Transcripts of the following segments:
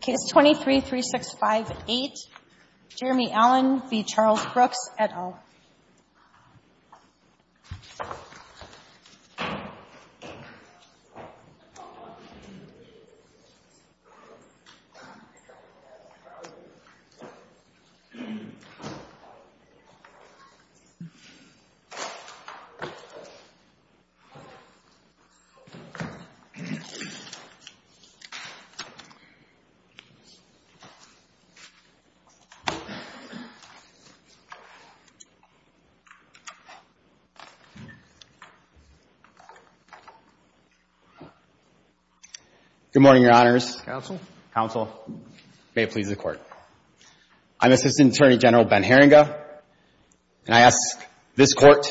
Case 23-3658, Jeremy Allen v. Charles Brooks, et al. Good morning, Your Honors. Counsel. Counsel. May it please the Court. I'm Assistant Attorney General Ben Heringa, and I ask this Court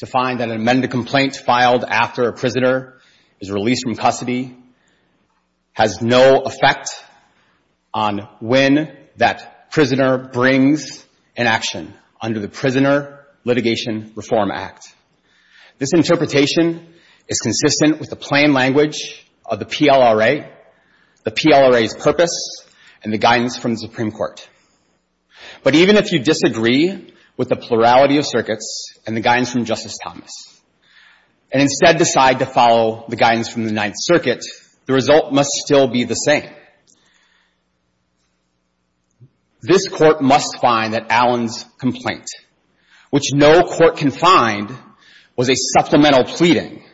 to find and amend the complaint filed after a prisoner is released from custody has no effect on when that prisoner brings an action under the Prisoner Litigation Reform Act. This interpretation is consistent with the plain language of the PLRA, the PLRA's purpose, and the guidance from the Supreme Court. But even if you disagree with the plurality of circuits and the guidance from Justice Thomas, and instead decide to follow the guidance from the Ninth Circuit, the result must still be the same. This Court must find that Allen's complaint, which no court can find was a supplemental pleading,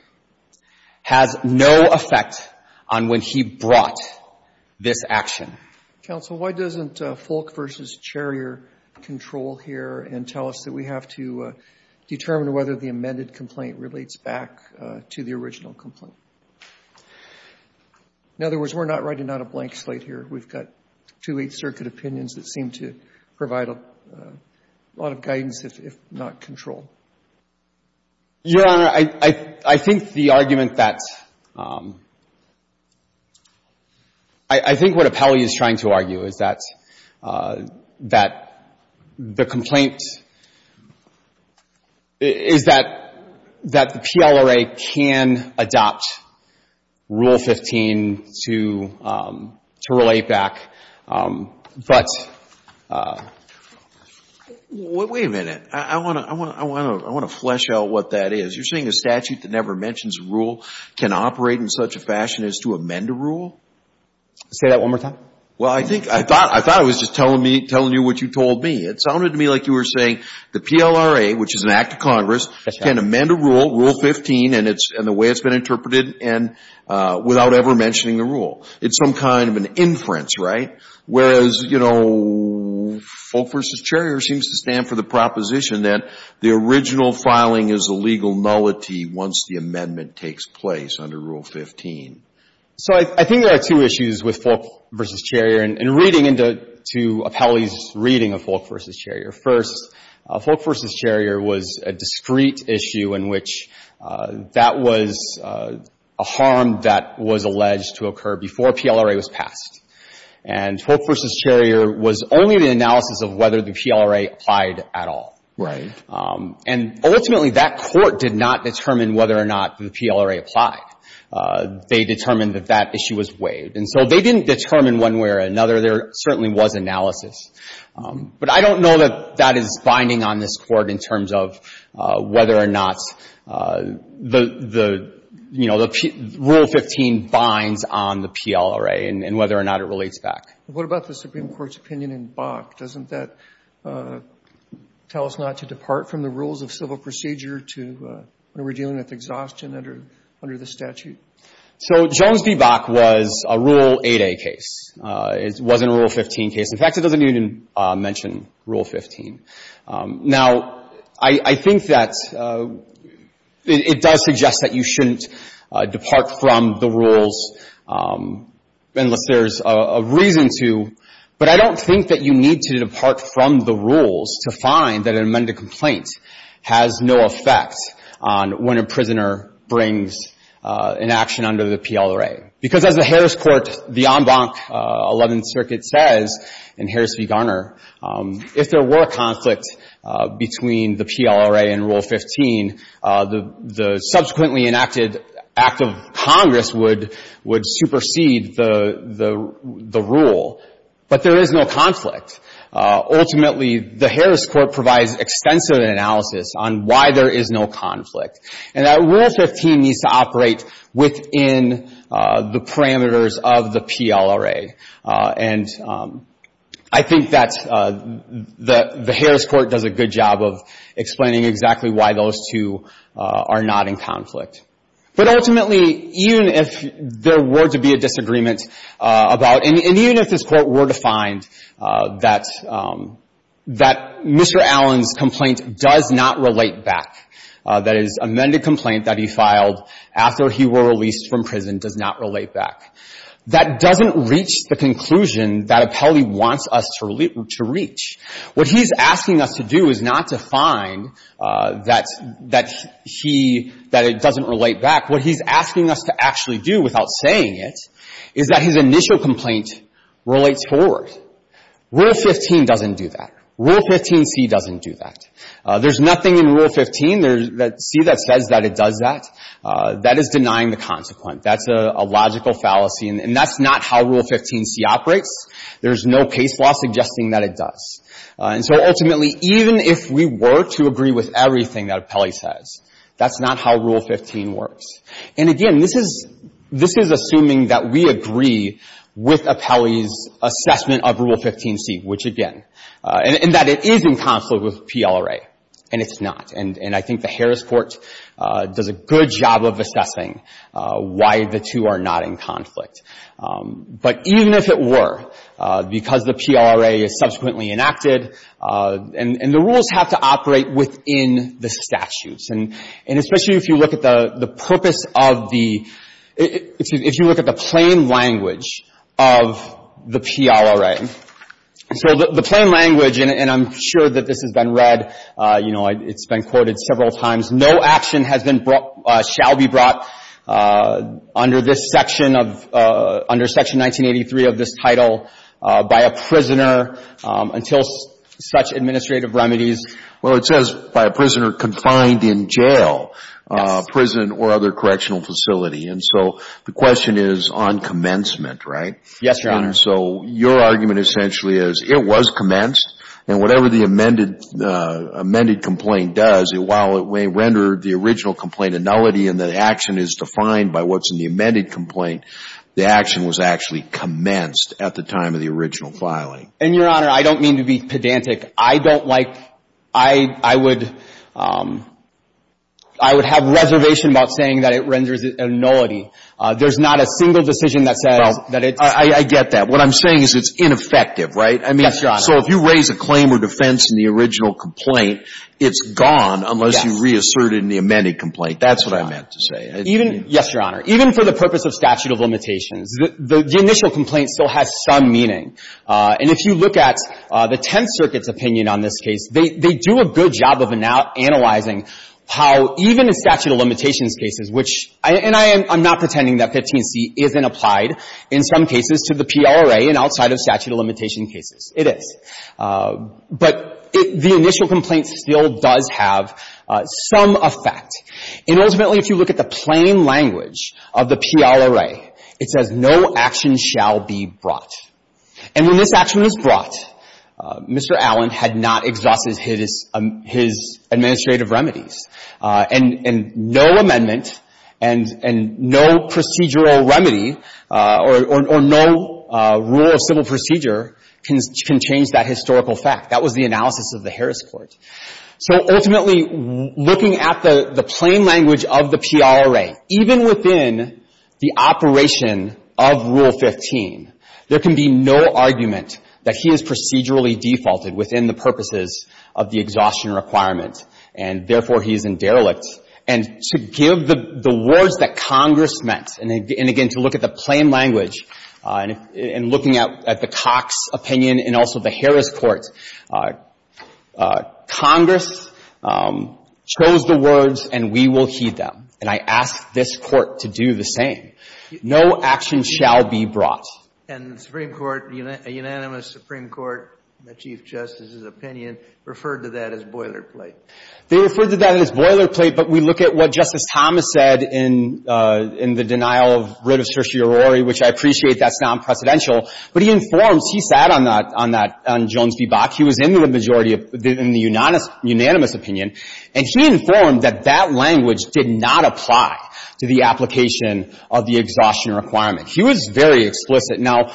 has no effect on when he brought this action. Counsel, why doesn't Folk v. Cherrier control here and tell us that we have to determine whether the amended complaint relates back to the original complaint? In other words, we're not writing out a blank slate here. We've got two Eighth Circuit opinions that seem to provide a lot of guidance, if not control. Your Honor, I think the argument that's — I think what Apelli is trying to argue is that the complaint — is that the PLRA can adopt Rule 15 to relate back, but — Wait a minute. I want to flesh out what that is. You're saying a statute that never mentions a rule can operate in such a fashion as to amend a rule? Say that one more time. Well, I think — I thought I was just telling you what you told me. It sounded to me like you were saying the PLRA, which is an act of Congress, can amend a rule, Rule 15, and the way it's been interpreted, and — without ever mentioning the rule. It's some kind of an inference, right? Whereas, you know, Folk v. Cherrier seems to stand for the proposition that the original filing is a legal nullity once the amendment takes place under Rule 15. So I think there are two issues with Folk v. Cherrier, and reading into Apelli's reading of Folk v. Cherrier. First, Folk v. Cherrier was a discrete issue in which that was a harm that was alleged to occur before PLRA was passed. And Folk v. Cherrier was only the analysis of whether the PLRA applied at all. Right. And ultimately, that Court did not determine whether or not the PLRA applied. They determined that that issue was waived. And so they didn't determine one way or another. There certainly was analysis. But I don't know that that is binding on this Court in terms of whether or not the — you know, the Rule 15 binds on the PLRA and whether or not it relates back. What about the Supreme Court's opinion in Bach? Doesn't that tell us not to depart from the rules of civil procedure to — when we're dealing with exhaustion under the statute? So Jones v. Bach was a Rule 8a case. It wasn't a Rule 15 case. In fact, it doesn't even mention Rule 15. Now, I think that it does suggest that you shouldn't depart from the rules unless there's a reason to. But I don't think that you need to depart from the rules to find that an amended complaint has no effect on when a prisoner brings an action under the PLRA. Because as the Harris Court — the en banc 11th Circuit says, in Harris v. Garner, if there were a conflict between the PLRA and Rule 15, the subsequently enacted act of Congress would — would supersede the — the rule. But there is no — ultimately, the Harris Court provides extensive analysis on why there is no conflict. And that Rule 15 needs to operate within the parameters of the PLRA. And I think that the Harris Court does a good job of explaining exactly why those two are not in conflict. But ultimately, even if there were to be a disagreement about — and even if this Court were to find that — that Mr. Allen's complaint does not relate back, that his amended complaint that he filed after he were released from prison does not relate back, that doesn't reach the conclusion that Appelli wants us to reach. What he's asking us to do is not to find that — that he — that it doesn't relate back. What he's asking us to actually do, without saying it, is that his complaint relates forward. Rule 15 doesn't do that. Rule 15c doesn't do that. There's nothing in Rule 15 that — c that says that it does that. That is denying the consequent. That's a — a logical fallacy. And that's not how Rule 15c operates. There's no case law suggesting that it does. And so ultimately, even if we were to agree with everything that Appelli says, that's not how Rule 15 works. And again, this is — this is assuming that we agree with Appelli's assessment of Rule 15c, which, again — and that it is in conflict with PLRA, and it's not. And — and I think the Harris Court does a good job of assessing why the two are not in conflict. But even if it were, because the PLRA is subsequently enacted, and — and the rules have to operate within the statutes. And — and especially if you look at the — the purpose of the — if you look at the plain language of the PLRA. And so the — the plain language, and I'm sure that this has been read, you know, it's been quoted several times. No action has been brought — shall be brought under this section of — under Section 1983 of this title by a prisoner until such administrative remedies. Well, it says by a prisoner confined in jail — Yes. — prison or other correctional facility. And so the question is on commencement, right? Yes, Your Honor. And so your argument essentially is it was commenced, and whatever the amended — amended complaint does, while it may render the original complaint a nullity and that action is defined by what's in the amended complaint, the action was actually commenced at the time of the original filing. And, Your Honor, I don't mean to be pedantic. I don't like — I — I would — I would have reservation about saying that it renders it a nullity. There's not a single decision that says that it's — Well, I — I get that. What I'm saying is it's ineffective, right? Yes, Your Honor. I mean, so if you raise a claim or defense in the original complaint, it's gone unless you reassert it in the amended complaint. That's what I meant to say. Even — yes, Your Honor. Even for the purpose of statute of limitations, the — the 10th Circuit's opinion on this case, they — they do a good job of analyzing how even in statute of limitations cases, which — and I am — I'm not pretending that 15C isn't applied in some cases to the PLRA and outside of statute of limitation cases. It is. But the initial complaint still does have some effect. And ultimately, if you look at the plain language of the PLRA, it says no action shall be brought. And when this action was brought, Mr. Allen had not exhausted his — his administrative remedies. And — and no amendment and — and no procedural remedy or — or no rule of civil procedure can — can change that historical fact. That was the analysis of the Harris Court. So ultimately, looking at the — the plain language of the PLRA, even within the procedurally defaulted, within the purposes of the exhaustion requirement, and therefore he is in derelict, and to give the — the words that Congress meant, and again, to look at the plain language, and looking at — at the Cox opinion and also the Harris Court, Congress chose the words, and we will heed them. And I ask this Court to do the same. No action shall be brought. And the Supreme Court — a unanimous Supreme Court, the Chief Justice's opinion referred to that as boilerplate. They referred to that as boilerplate, but we look at what Justice Thomas said in — in the denial of — writ of certiorari, which I appreciate that's non-precedential, but he informs — he sat on that — on that — on Jones v. Bach. He was in the majority of — in the unanimous opinion, and he informed that that language did not apply to the application of the exhaustion requirement. He was very explicit. Now,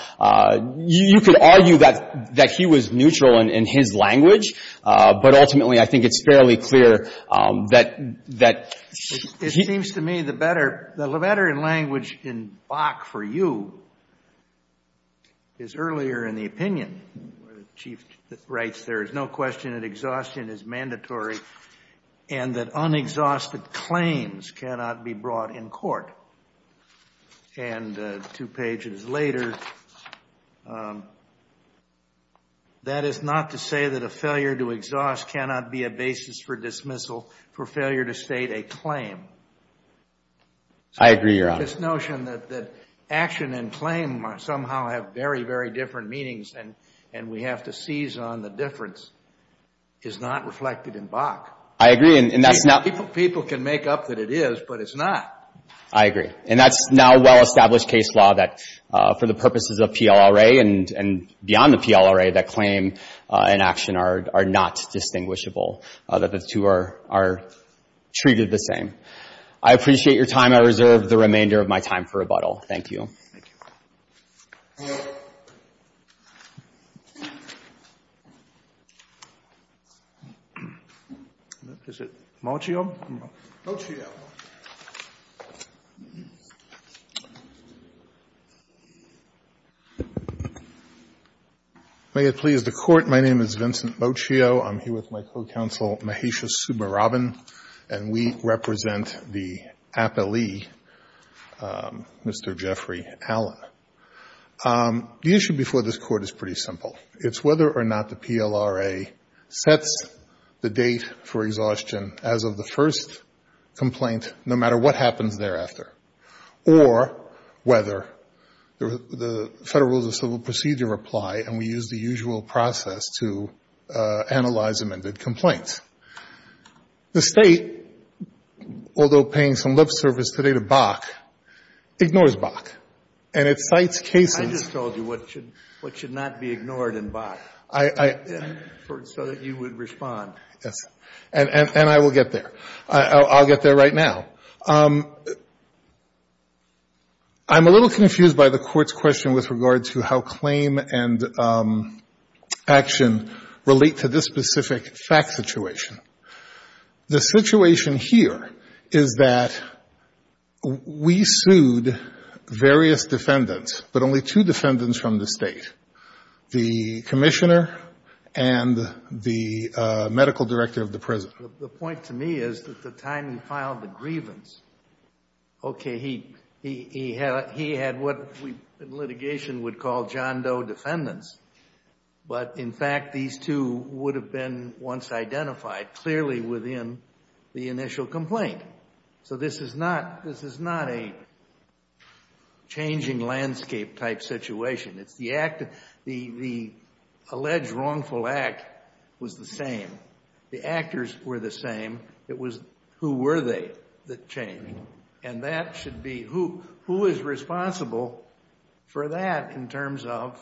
you could argue that — that he was neutral in — in his language, but ultimately, I think it's fairly clear that — that he — It seems to me the better — the better language in Bach for you is earlier in the opinion, where the Chief writes, there is no question that exhaustion is mandatory and that unexhausted claims cannot be brought in court. And two pages later, that is not to say that a failure to exhaust cannot be a basis for dismissal, for failure to state a claim. I agree, Your Honor. This notion that — that action and claim somehow have very, very different meanings and — and we have to seize on the difference is not reflected in Bach. I agree, and that's not — People — people can make up that it is, but it's not. I agree. And that's now a well-established case law that, for the purposes of PLRA and beyond the PLRA, that claim and action are — are not distinguishable, that the two are — are treated the same. I appreciate your time. I reserve the remainder of my time for rebuttal. Thank you. Thank you. Is it Moccio? Moccio. May it please the Court, my name is Vincent Moccio. I'm here with my co-counsel Mahesha Subba-Rabin, and we represent the appellee, Mr. Jeffrey Allen. The issue before this Court is pretty simple. It's whether or not the PLRA sets the date for exhaustion as of the first complaint, no matter what happens thereafter, or whether the Federal Rules of Civil Procedure apply and we use the usual process to analyze amended complaints. The State, although paying some lip service today to Bach, ignores Bach, and it cites cases — I just told you what should — what should not be ignored in Bach. I — I — So that you would respond. Yes. And — and I will get there. I'll — I'll get there right now. I'm a little confused by the Court's question with regard to how claim and action relate to this specific fact situation. The situation here is that we sued various defendants, but only two defendants from the State, the commissioner and the medical director of the prison. The point to me is that the time he filed the grievance, okay, he — he had — he litigation would call John Doe defendants, but in fact these two would have been once identified clearly within the initial complaint. So this is not — this is not a changing landscape type situation. It's the act — the — the alleged wrongful act was the same. The actors were the same. It was who were they that changed. And that should be — who — who is responsible for that in terms of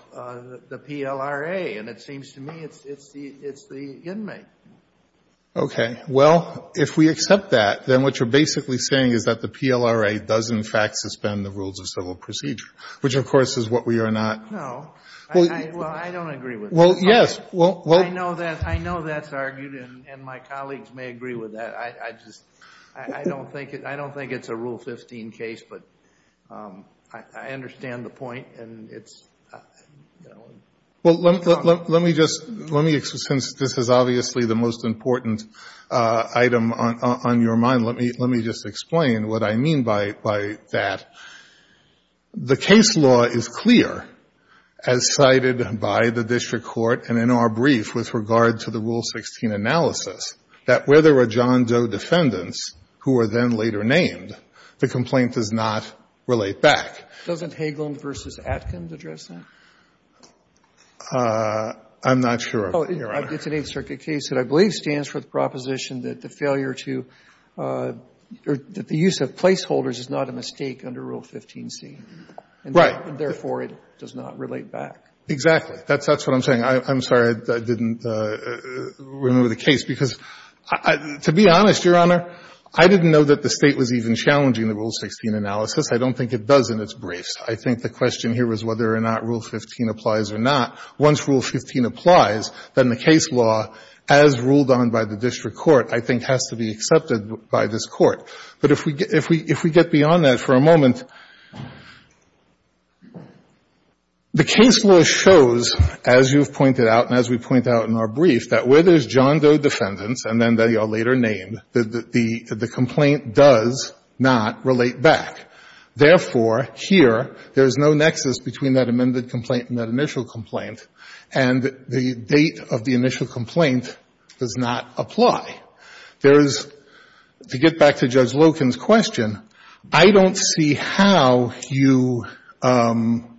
the PLRA? And it seems to me it's — it's the — it's the inmate. Okay. Well, if we accept that, then what you're basically saying is that the PLRA does in fact suspend the rules of civil procedure, which, of course, is what we are not — No. Well — Well, I don't agree with that. Well, yes. Well — I know that — I know that's argued, and my colleagues may agree with that. I just — I don't think — I don't think it's a Rule 15 case, but I understand the point, and it's — Well, let me just — let me — since this is obviously the most important item on your mind, let me — let me just explain what I mean by — by that. The case law is clear, as cited by the district court and in our brief with regard to the defendants who are then later named. The complaint does not relate back. Doesn't Hagelin v. Atkins address that? I'm not sure, Your Honor. Oh, it's an Eighth Circuit case that I believe stands for the proposition that the failure to — that the use of placeholders is not a mistake under Rule 15c. Right. And therefore, it does not relate back. Exactly. That's — that's what I'm saying. I'm sorry I didn't remember the case, because to be honest, Your Honor, I didn't know that the State was even challenging the Rule 16 analysis. I don't think it does in its briefs. I think the question here was whether or not Rule 15 applies or not. Once Rule 15 applies, then the case law, as ruled on by the district court, I think has to be accepted by this Court. But if we get beyond that for a moment, the case law shows, as you've pointed out and as we point out in our brief, that where there's John Doe defendants and then they are later named, the complaint does not relate back. Therefore, here, there is no nexus between that amended complaint and that initial complaint, and the date of the initial complaint does not apply. There is — to get back to Judge Loken's question, I don't see how you divorce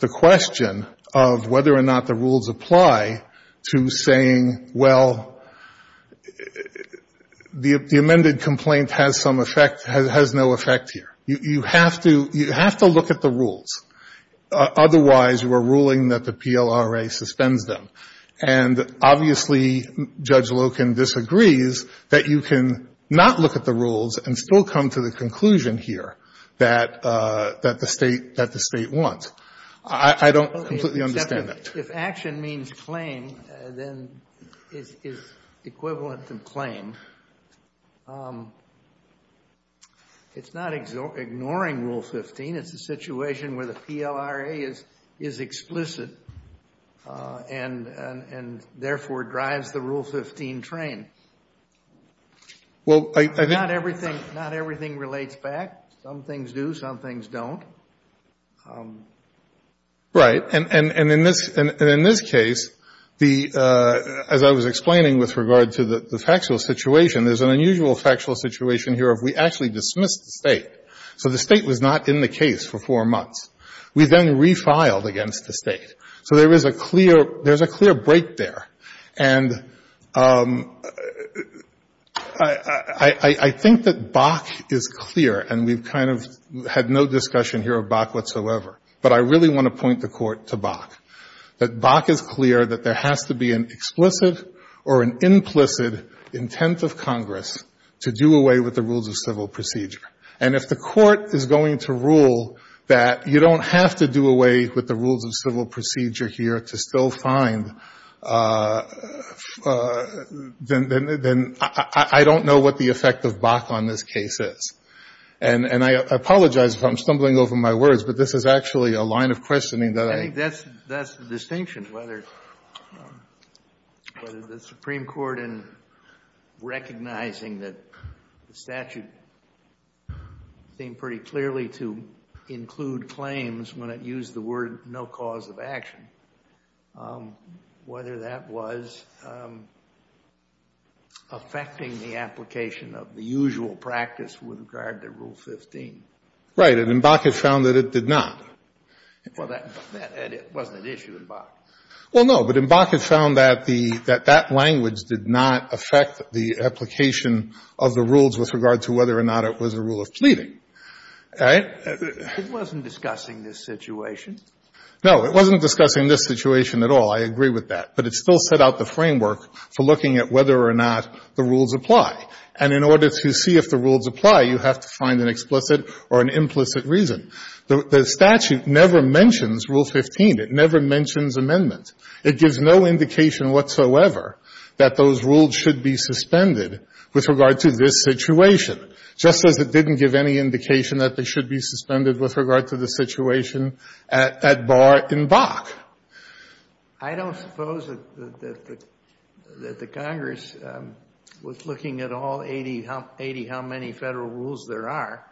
the question of whether or not the rules apply to saying, well, the amended complaint has some effect — has no effect here. You have to — you have to look at the rules. Otherwise, we're ruling that the PLRA suspends them. And obviously, Judge Loken disagrees that you can not look at the rules and still come to the conclusion here that — that the State — that the State wants. I don't completely understand that. Gershengorn If action means claim, then it's equivalent to claim. It's not ignoring Rule 15. It's a situation where the PLRA is explicit and, therefore, drives the Rule 15 train. Not everything relates back. Some things do. Some things don't. Fisher Right. And in this case, the — as I was explaining with regard to the factual situation, So the State was not in the case for four months. We then refiled against the State. So there is a clear — there's a clear break there. And I think that Bach is clear, and we've kind of had no discussion here of Bach whatsoever, but I really want to point the Court to Bach, that Bach is clear that there has to be an explicit or an implicit intent of Congress to do away with the And if the Court is going to rule that you don't have to do away with the rules of civil procedure here to still find, then — then I don't know what the effect of Bach on this case is. And — and I apologize if I'm stumbling over my words, but this is actually a line of questioning that I — Kennedy I think that's — that's the distinction, whether the Supreme Court in recognizing that the statute seemed pretty clearly to include claims when it used the word no cause of action, whether that was affecting the application of the usual practice with regard to Rule 15. Fisher Right. And Bach has found that it did not. Kennedy Well, that — that wasn't an issue in Bach. Fisher Well, no, but in Bach it found that the — that that language did not affect the application of the rules with regard to whether or not it was a rule of pleading. All right? Kennedy It wasn't discussing this situation. Fisher No, it wasn't discussing this situation at all. I agree with that. But it still set out the framework for looking at whether or not the rules apply. And in order to see if the rules apply, you have to find an explicit or an implicit reason. The statute never mentions Rule 15. It never mentions amendments. It gives no indication whatsoever that those rules should be suspended with regard to this situation, just as it didn't give any indication that they should be suspended with regard to the situation at — at bar in Bach. Kennedy I don't suppose that the — that the Congress was looking at all 80 — 80 how many Federal rules there are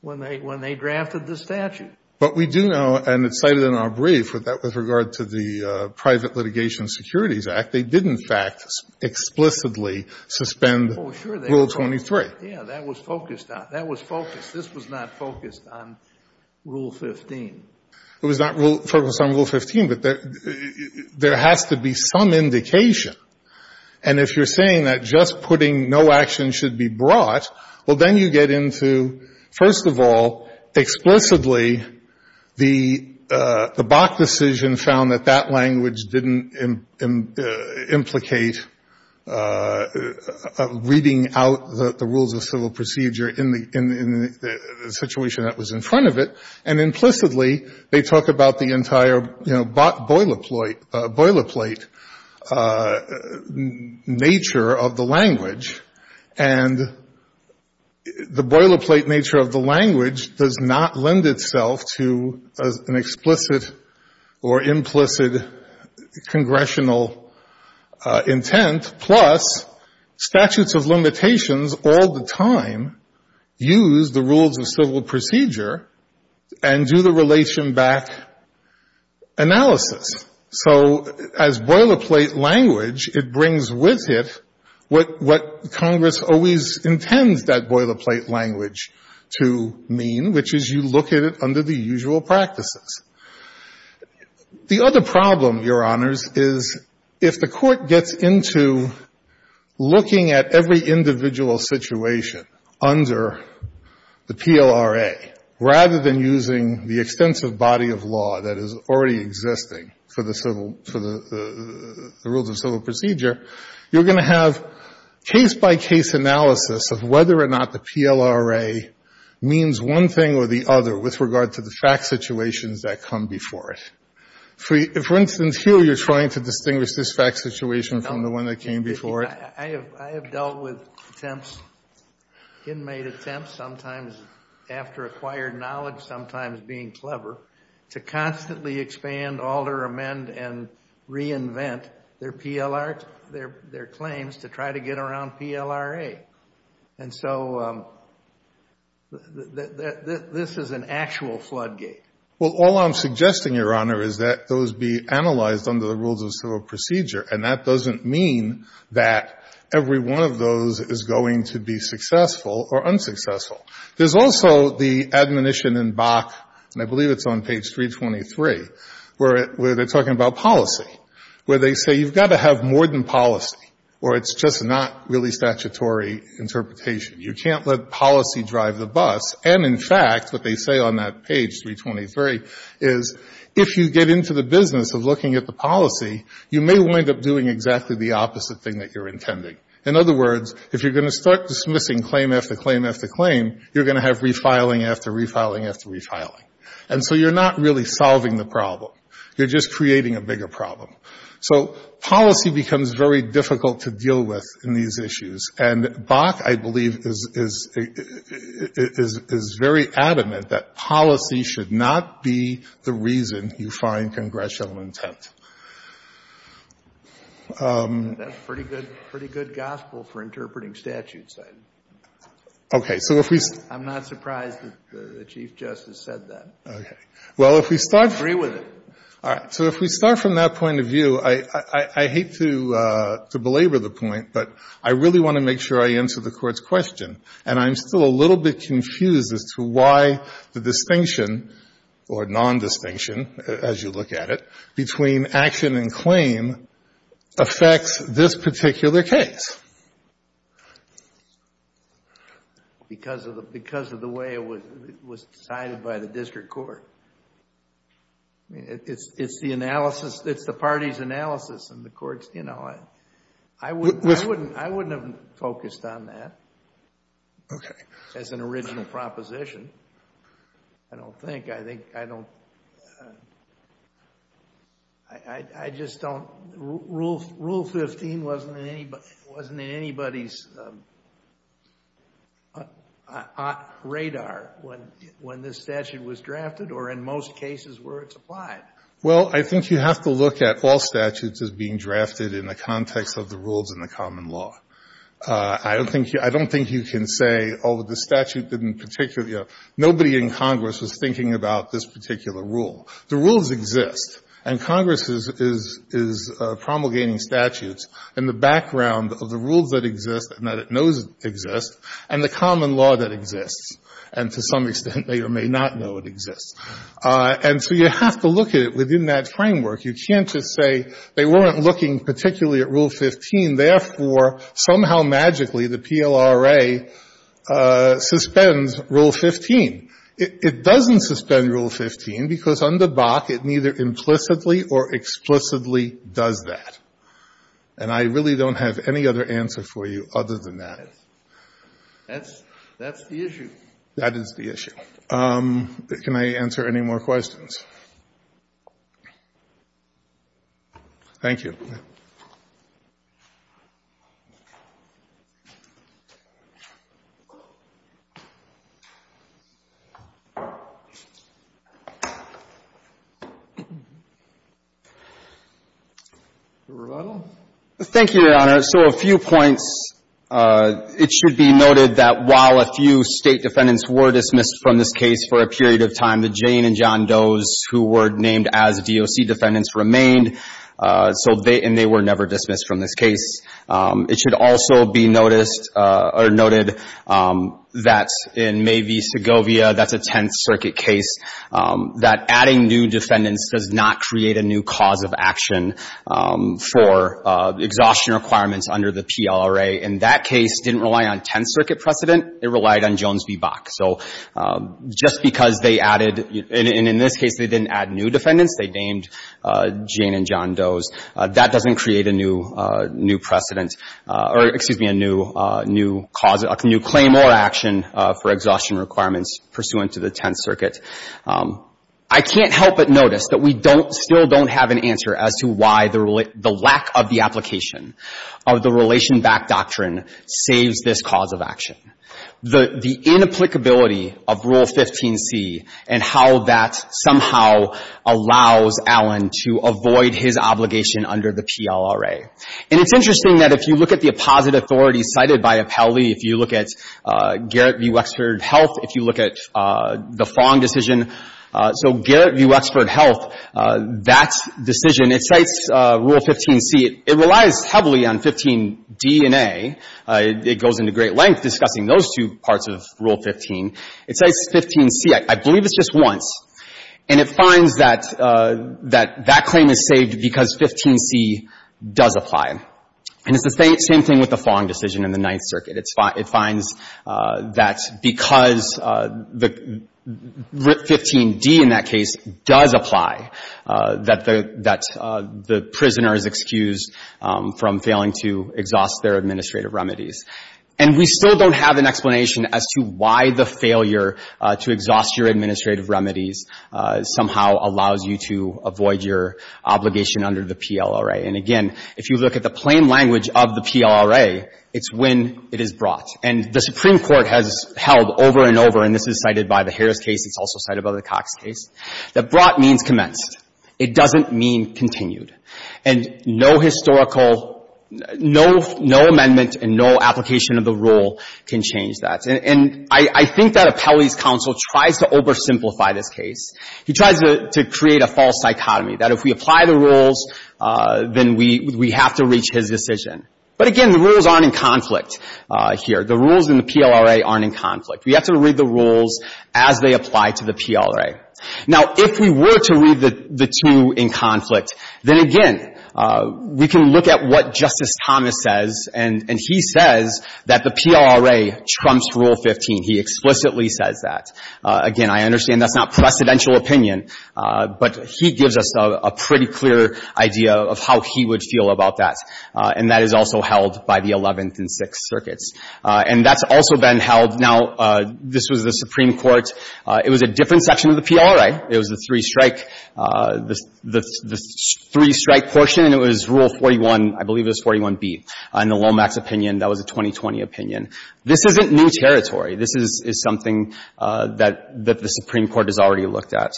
when they — when they drafted the statute. Fisher But we do know, and it's cited in our brief, that with regard to the Private Litigation Securities Act, they did, in fact, explicitly suspend Rule 23. Kennedy Oh, sure, they did. Yeah, that was focused on — that was focused. This was not focused on Rule 15. Fisher It was not rule — focused on Rule 15, but there has to be some indication. And if you're saying that just putting no action should be brought, well, then you get into, first of all, explicitly the — the Bach decision found that that language didn't implicate reading out the rules of civil procedure in the — in the situation that was in front of it. And implicitly, they talk about the entire, you know, Bach boilerplate — boilerplate nature of the language. And the boilerplate nature of the language does not lend itself to an explicit or implicit congressional intent. Plus, statutes of limitations all the time use the rules of civil procedure and do the relation back analysis. So as boilerplate language, it brings with it what — what Congress always intends that boilerplate language to mean, which is you look at it under the usual practices. The other problem, Your Honors, is if the Court gets into looking at every individual situation under the PLRA, rather than using the extensive body of law that is already existing for the civil — for the — the rules of civil procedure, you're going to have case-by-case analysis of whether or not the PLRA means one thing or the other with regard to the fact situations that come before it. For instance, here you're trying to distinguish this fact situation from the one that came before it. I have dealt with attempts, inmate attempts, sometimes after acquired knowledge, sometimes being clever, to constantly expand, alter, amend, and reinvent their PLR — their claims to try to get around PLRA. And so this is an actual floodgate. Well, all I'm suggesting, Your Honor, is that those be analyzed under the rules of civil procedure, and that doesn't mean that every one of those is going to be successful or unsuccessful. There's also the admonition in Bach, and I believe it's on page 323, where they're talking about policy, where they say you've got to have more than policy, or it's just not really statutory interpretation. You can't let policy drive the bus. And, in fact, what they say on that page, 323, is if you get into the business of looking at the policy, you may wind up doing exactly the opposite thing that you're intending. In other words, if you're going to start dismissing claim after claim after claim, you're going to have refiling after refiling after refiling. And so you're not really solving the problem. You're just creating a bigger problem. So policy becomes very difficult to deal with in these issues. And Bach, I believe, is very adamant that policy should not be the reason you find congressional intent. Kennedy. That's pretty good gospel for interpreting statutes. I'm not surprised that the Chief Justice said that. I agree with it. All right. So if we start from that point of view, I hate to belabor the point, but I really want to make sure I answer the Court's question. And I'm still a little bit confused as to why the distinction, or nondistinction as you look at it, between action and claim affects this particular case. Because of the way it was decided by the district court. I mean, it's the analysis. It's the party's analysis in the courts. You know, I wouldn't have focused on that as an original proposition. I don't think. I think I don't. I just don't. Rule 15 wasn't in anybody's radar when this statute was drafted, or in most cases where it's applied. Well, I think you have to look at all statutes as being drafted in the context of the rules in the common law. I don't think you can say, oh, the statute didn't particularly. Nobody in Congress was thinking about this particular rule. The rules exist. And Congress is promulgating statutes in the background of the rules that exist and that it knows exist and the common law that exists. And to some extent, they may or may not know it exists. And so you have to look at it within that framework. You can't just say they weren't looking particularly at Rule 15. Therefore, somehow, magically, the PLRA suspends Rule 15. It doesn't suspend Rule 15 because under Bach, it neither implicitly or explicitly does that. And I really don't have any other answer for you other than that. That's the issue. That is the issue. Can I answer any more questions? Thank you. Rebuttal? Thank you, Your Honor. So a few points. It should be noted that while a few State defendants were dismissed from this case for a period of time, the Jane and John Does, who were named as DOC defendants, remained. So they — and they were never dismissed from this case. It should also be noticed or noted that in Mae v. Segovia, that's a Tenth Circuit case, that adding new defendants does not create a new cause of action for exhaustion requirements under the PLRA. And that case didn't rely on Tenth Circuit precedent. It relied on Jones v. Bach. So just because they added — and in this case, they didn't add new defendants. They named Jane and John Does. That doesn't create a new precedent — or, excuse me, a new cause — a new claim or action for exhaustion requirements pursuant to the Tenth Circuit. I can't help but notice that we don't — still don't have an answer as to why the lack of the application of the relation-backed doctrine saves this cause of action. The inapplicability of Rule 15c and how that somehow allows Allen to avoid his obligation under the PLRA. And it's interesting that if you look at the opposite authorities cited by Apelli, if you look at Garrett v. Wexford Health, if you look at the Fong decision — so Garrett v. Wexford Health, that decision, it cites Rule 15c. It relies heavily on 15d and a. It goes into great length discussing those two parts of Rule 15. It cites 15c, I believe it's just once. And it finds that that claim is saved because 15c does apply. And it's the same thing with the Fong decision in the Ninth Circuit. It finds that because 15d in that case does apply, that the prisoner is excused from failing to exhaust their administrative remedies. And we still don't have an explanation as to why the failure to exhaust your administrative remedies somehow allows you to avoid your obligation under the PLRA. And again, if you look at the plain language of the PLRA, it's when it is brought. And the Supreme Court has held over and over, and this is cited by the Harris case, it's also cited by the Cox case, that brought means commenced. It doesn't mean continued. And no historical, no amendment and no application of the rule can change that. And I think that Appelli's counsel tries to oversimplify this case. He tries to create a false psychotomy that if we apply the rules, then we have to reach his decision. But again, the rules aren't in conflict here. The rules in the PLRA aren't in conflict. We have to read the rules as they apply to the PLRA. Now, if we were to read the two in conflict, then again, we can look at what Justice Thomas says. And he says that the PLRA trumps Rule 15. He explicitly says that. Again, I understand that's not precedential opinion, but he gives us a pretty clear idea of how he would feel about that. And that is also held by the Eleventh and Sixth Circuits. And that's also been held. Now, this was the Supreme Court. It was a different section of the PLRA. It was the three-strike, the three-strike portion. It was Rule 41, I believe it was 41B, in the Lomax opinion. That was a 2020 opinion. This isn't new territory. This is something that the Supreme Court has already looked at.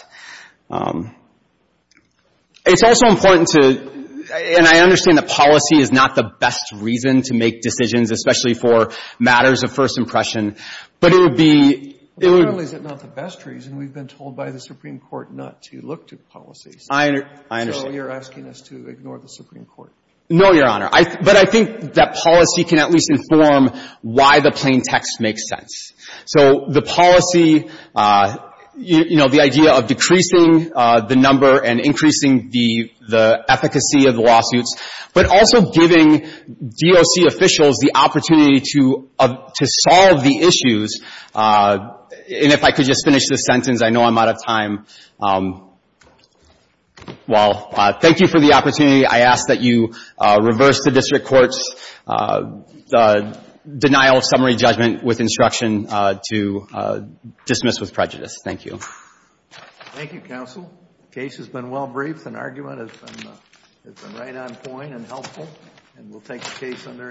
It's also important to — and I understand that policy is not the best reason to make decisions, especially for matters of first impression, but it would be — But not only is it not the best reason, we've been told by the Supreme Court not to look to policies. I understand. So you're asking us to ignore the Supreme Court. No, Your Honor. But I think that policy can at least inform why the plain text makes sense. So the policy, you know, the idea of decreasing the number and increasing the efficacy of the lawsuits, but also giving DOC officials the opportunity to solve the issues. And if I could just finish this sentence, I know I'm out of time. Well, thank you for the opportunity. I ask that you reverse the district court's denial of summary judgment with instruction to dismiss with prejudice. Thank you. Thank you, counsel. Case has been well briefed. An argument has been right on point and helpful. And we'll take the case under advisement.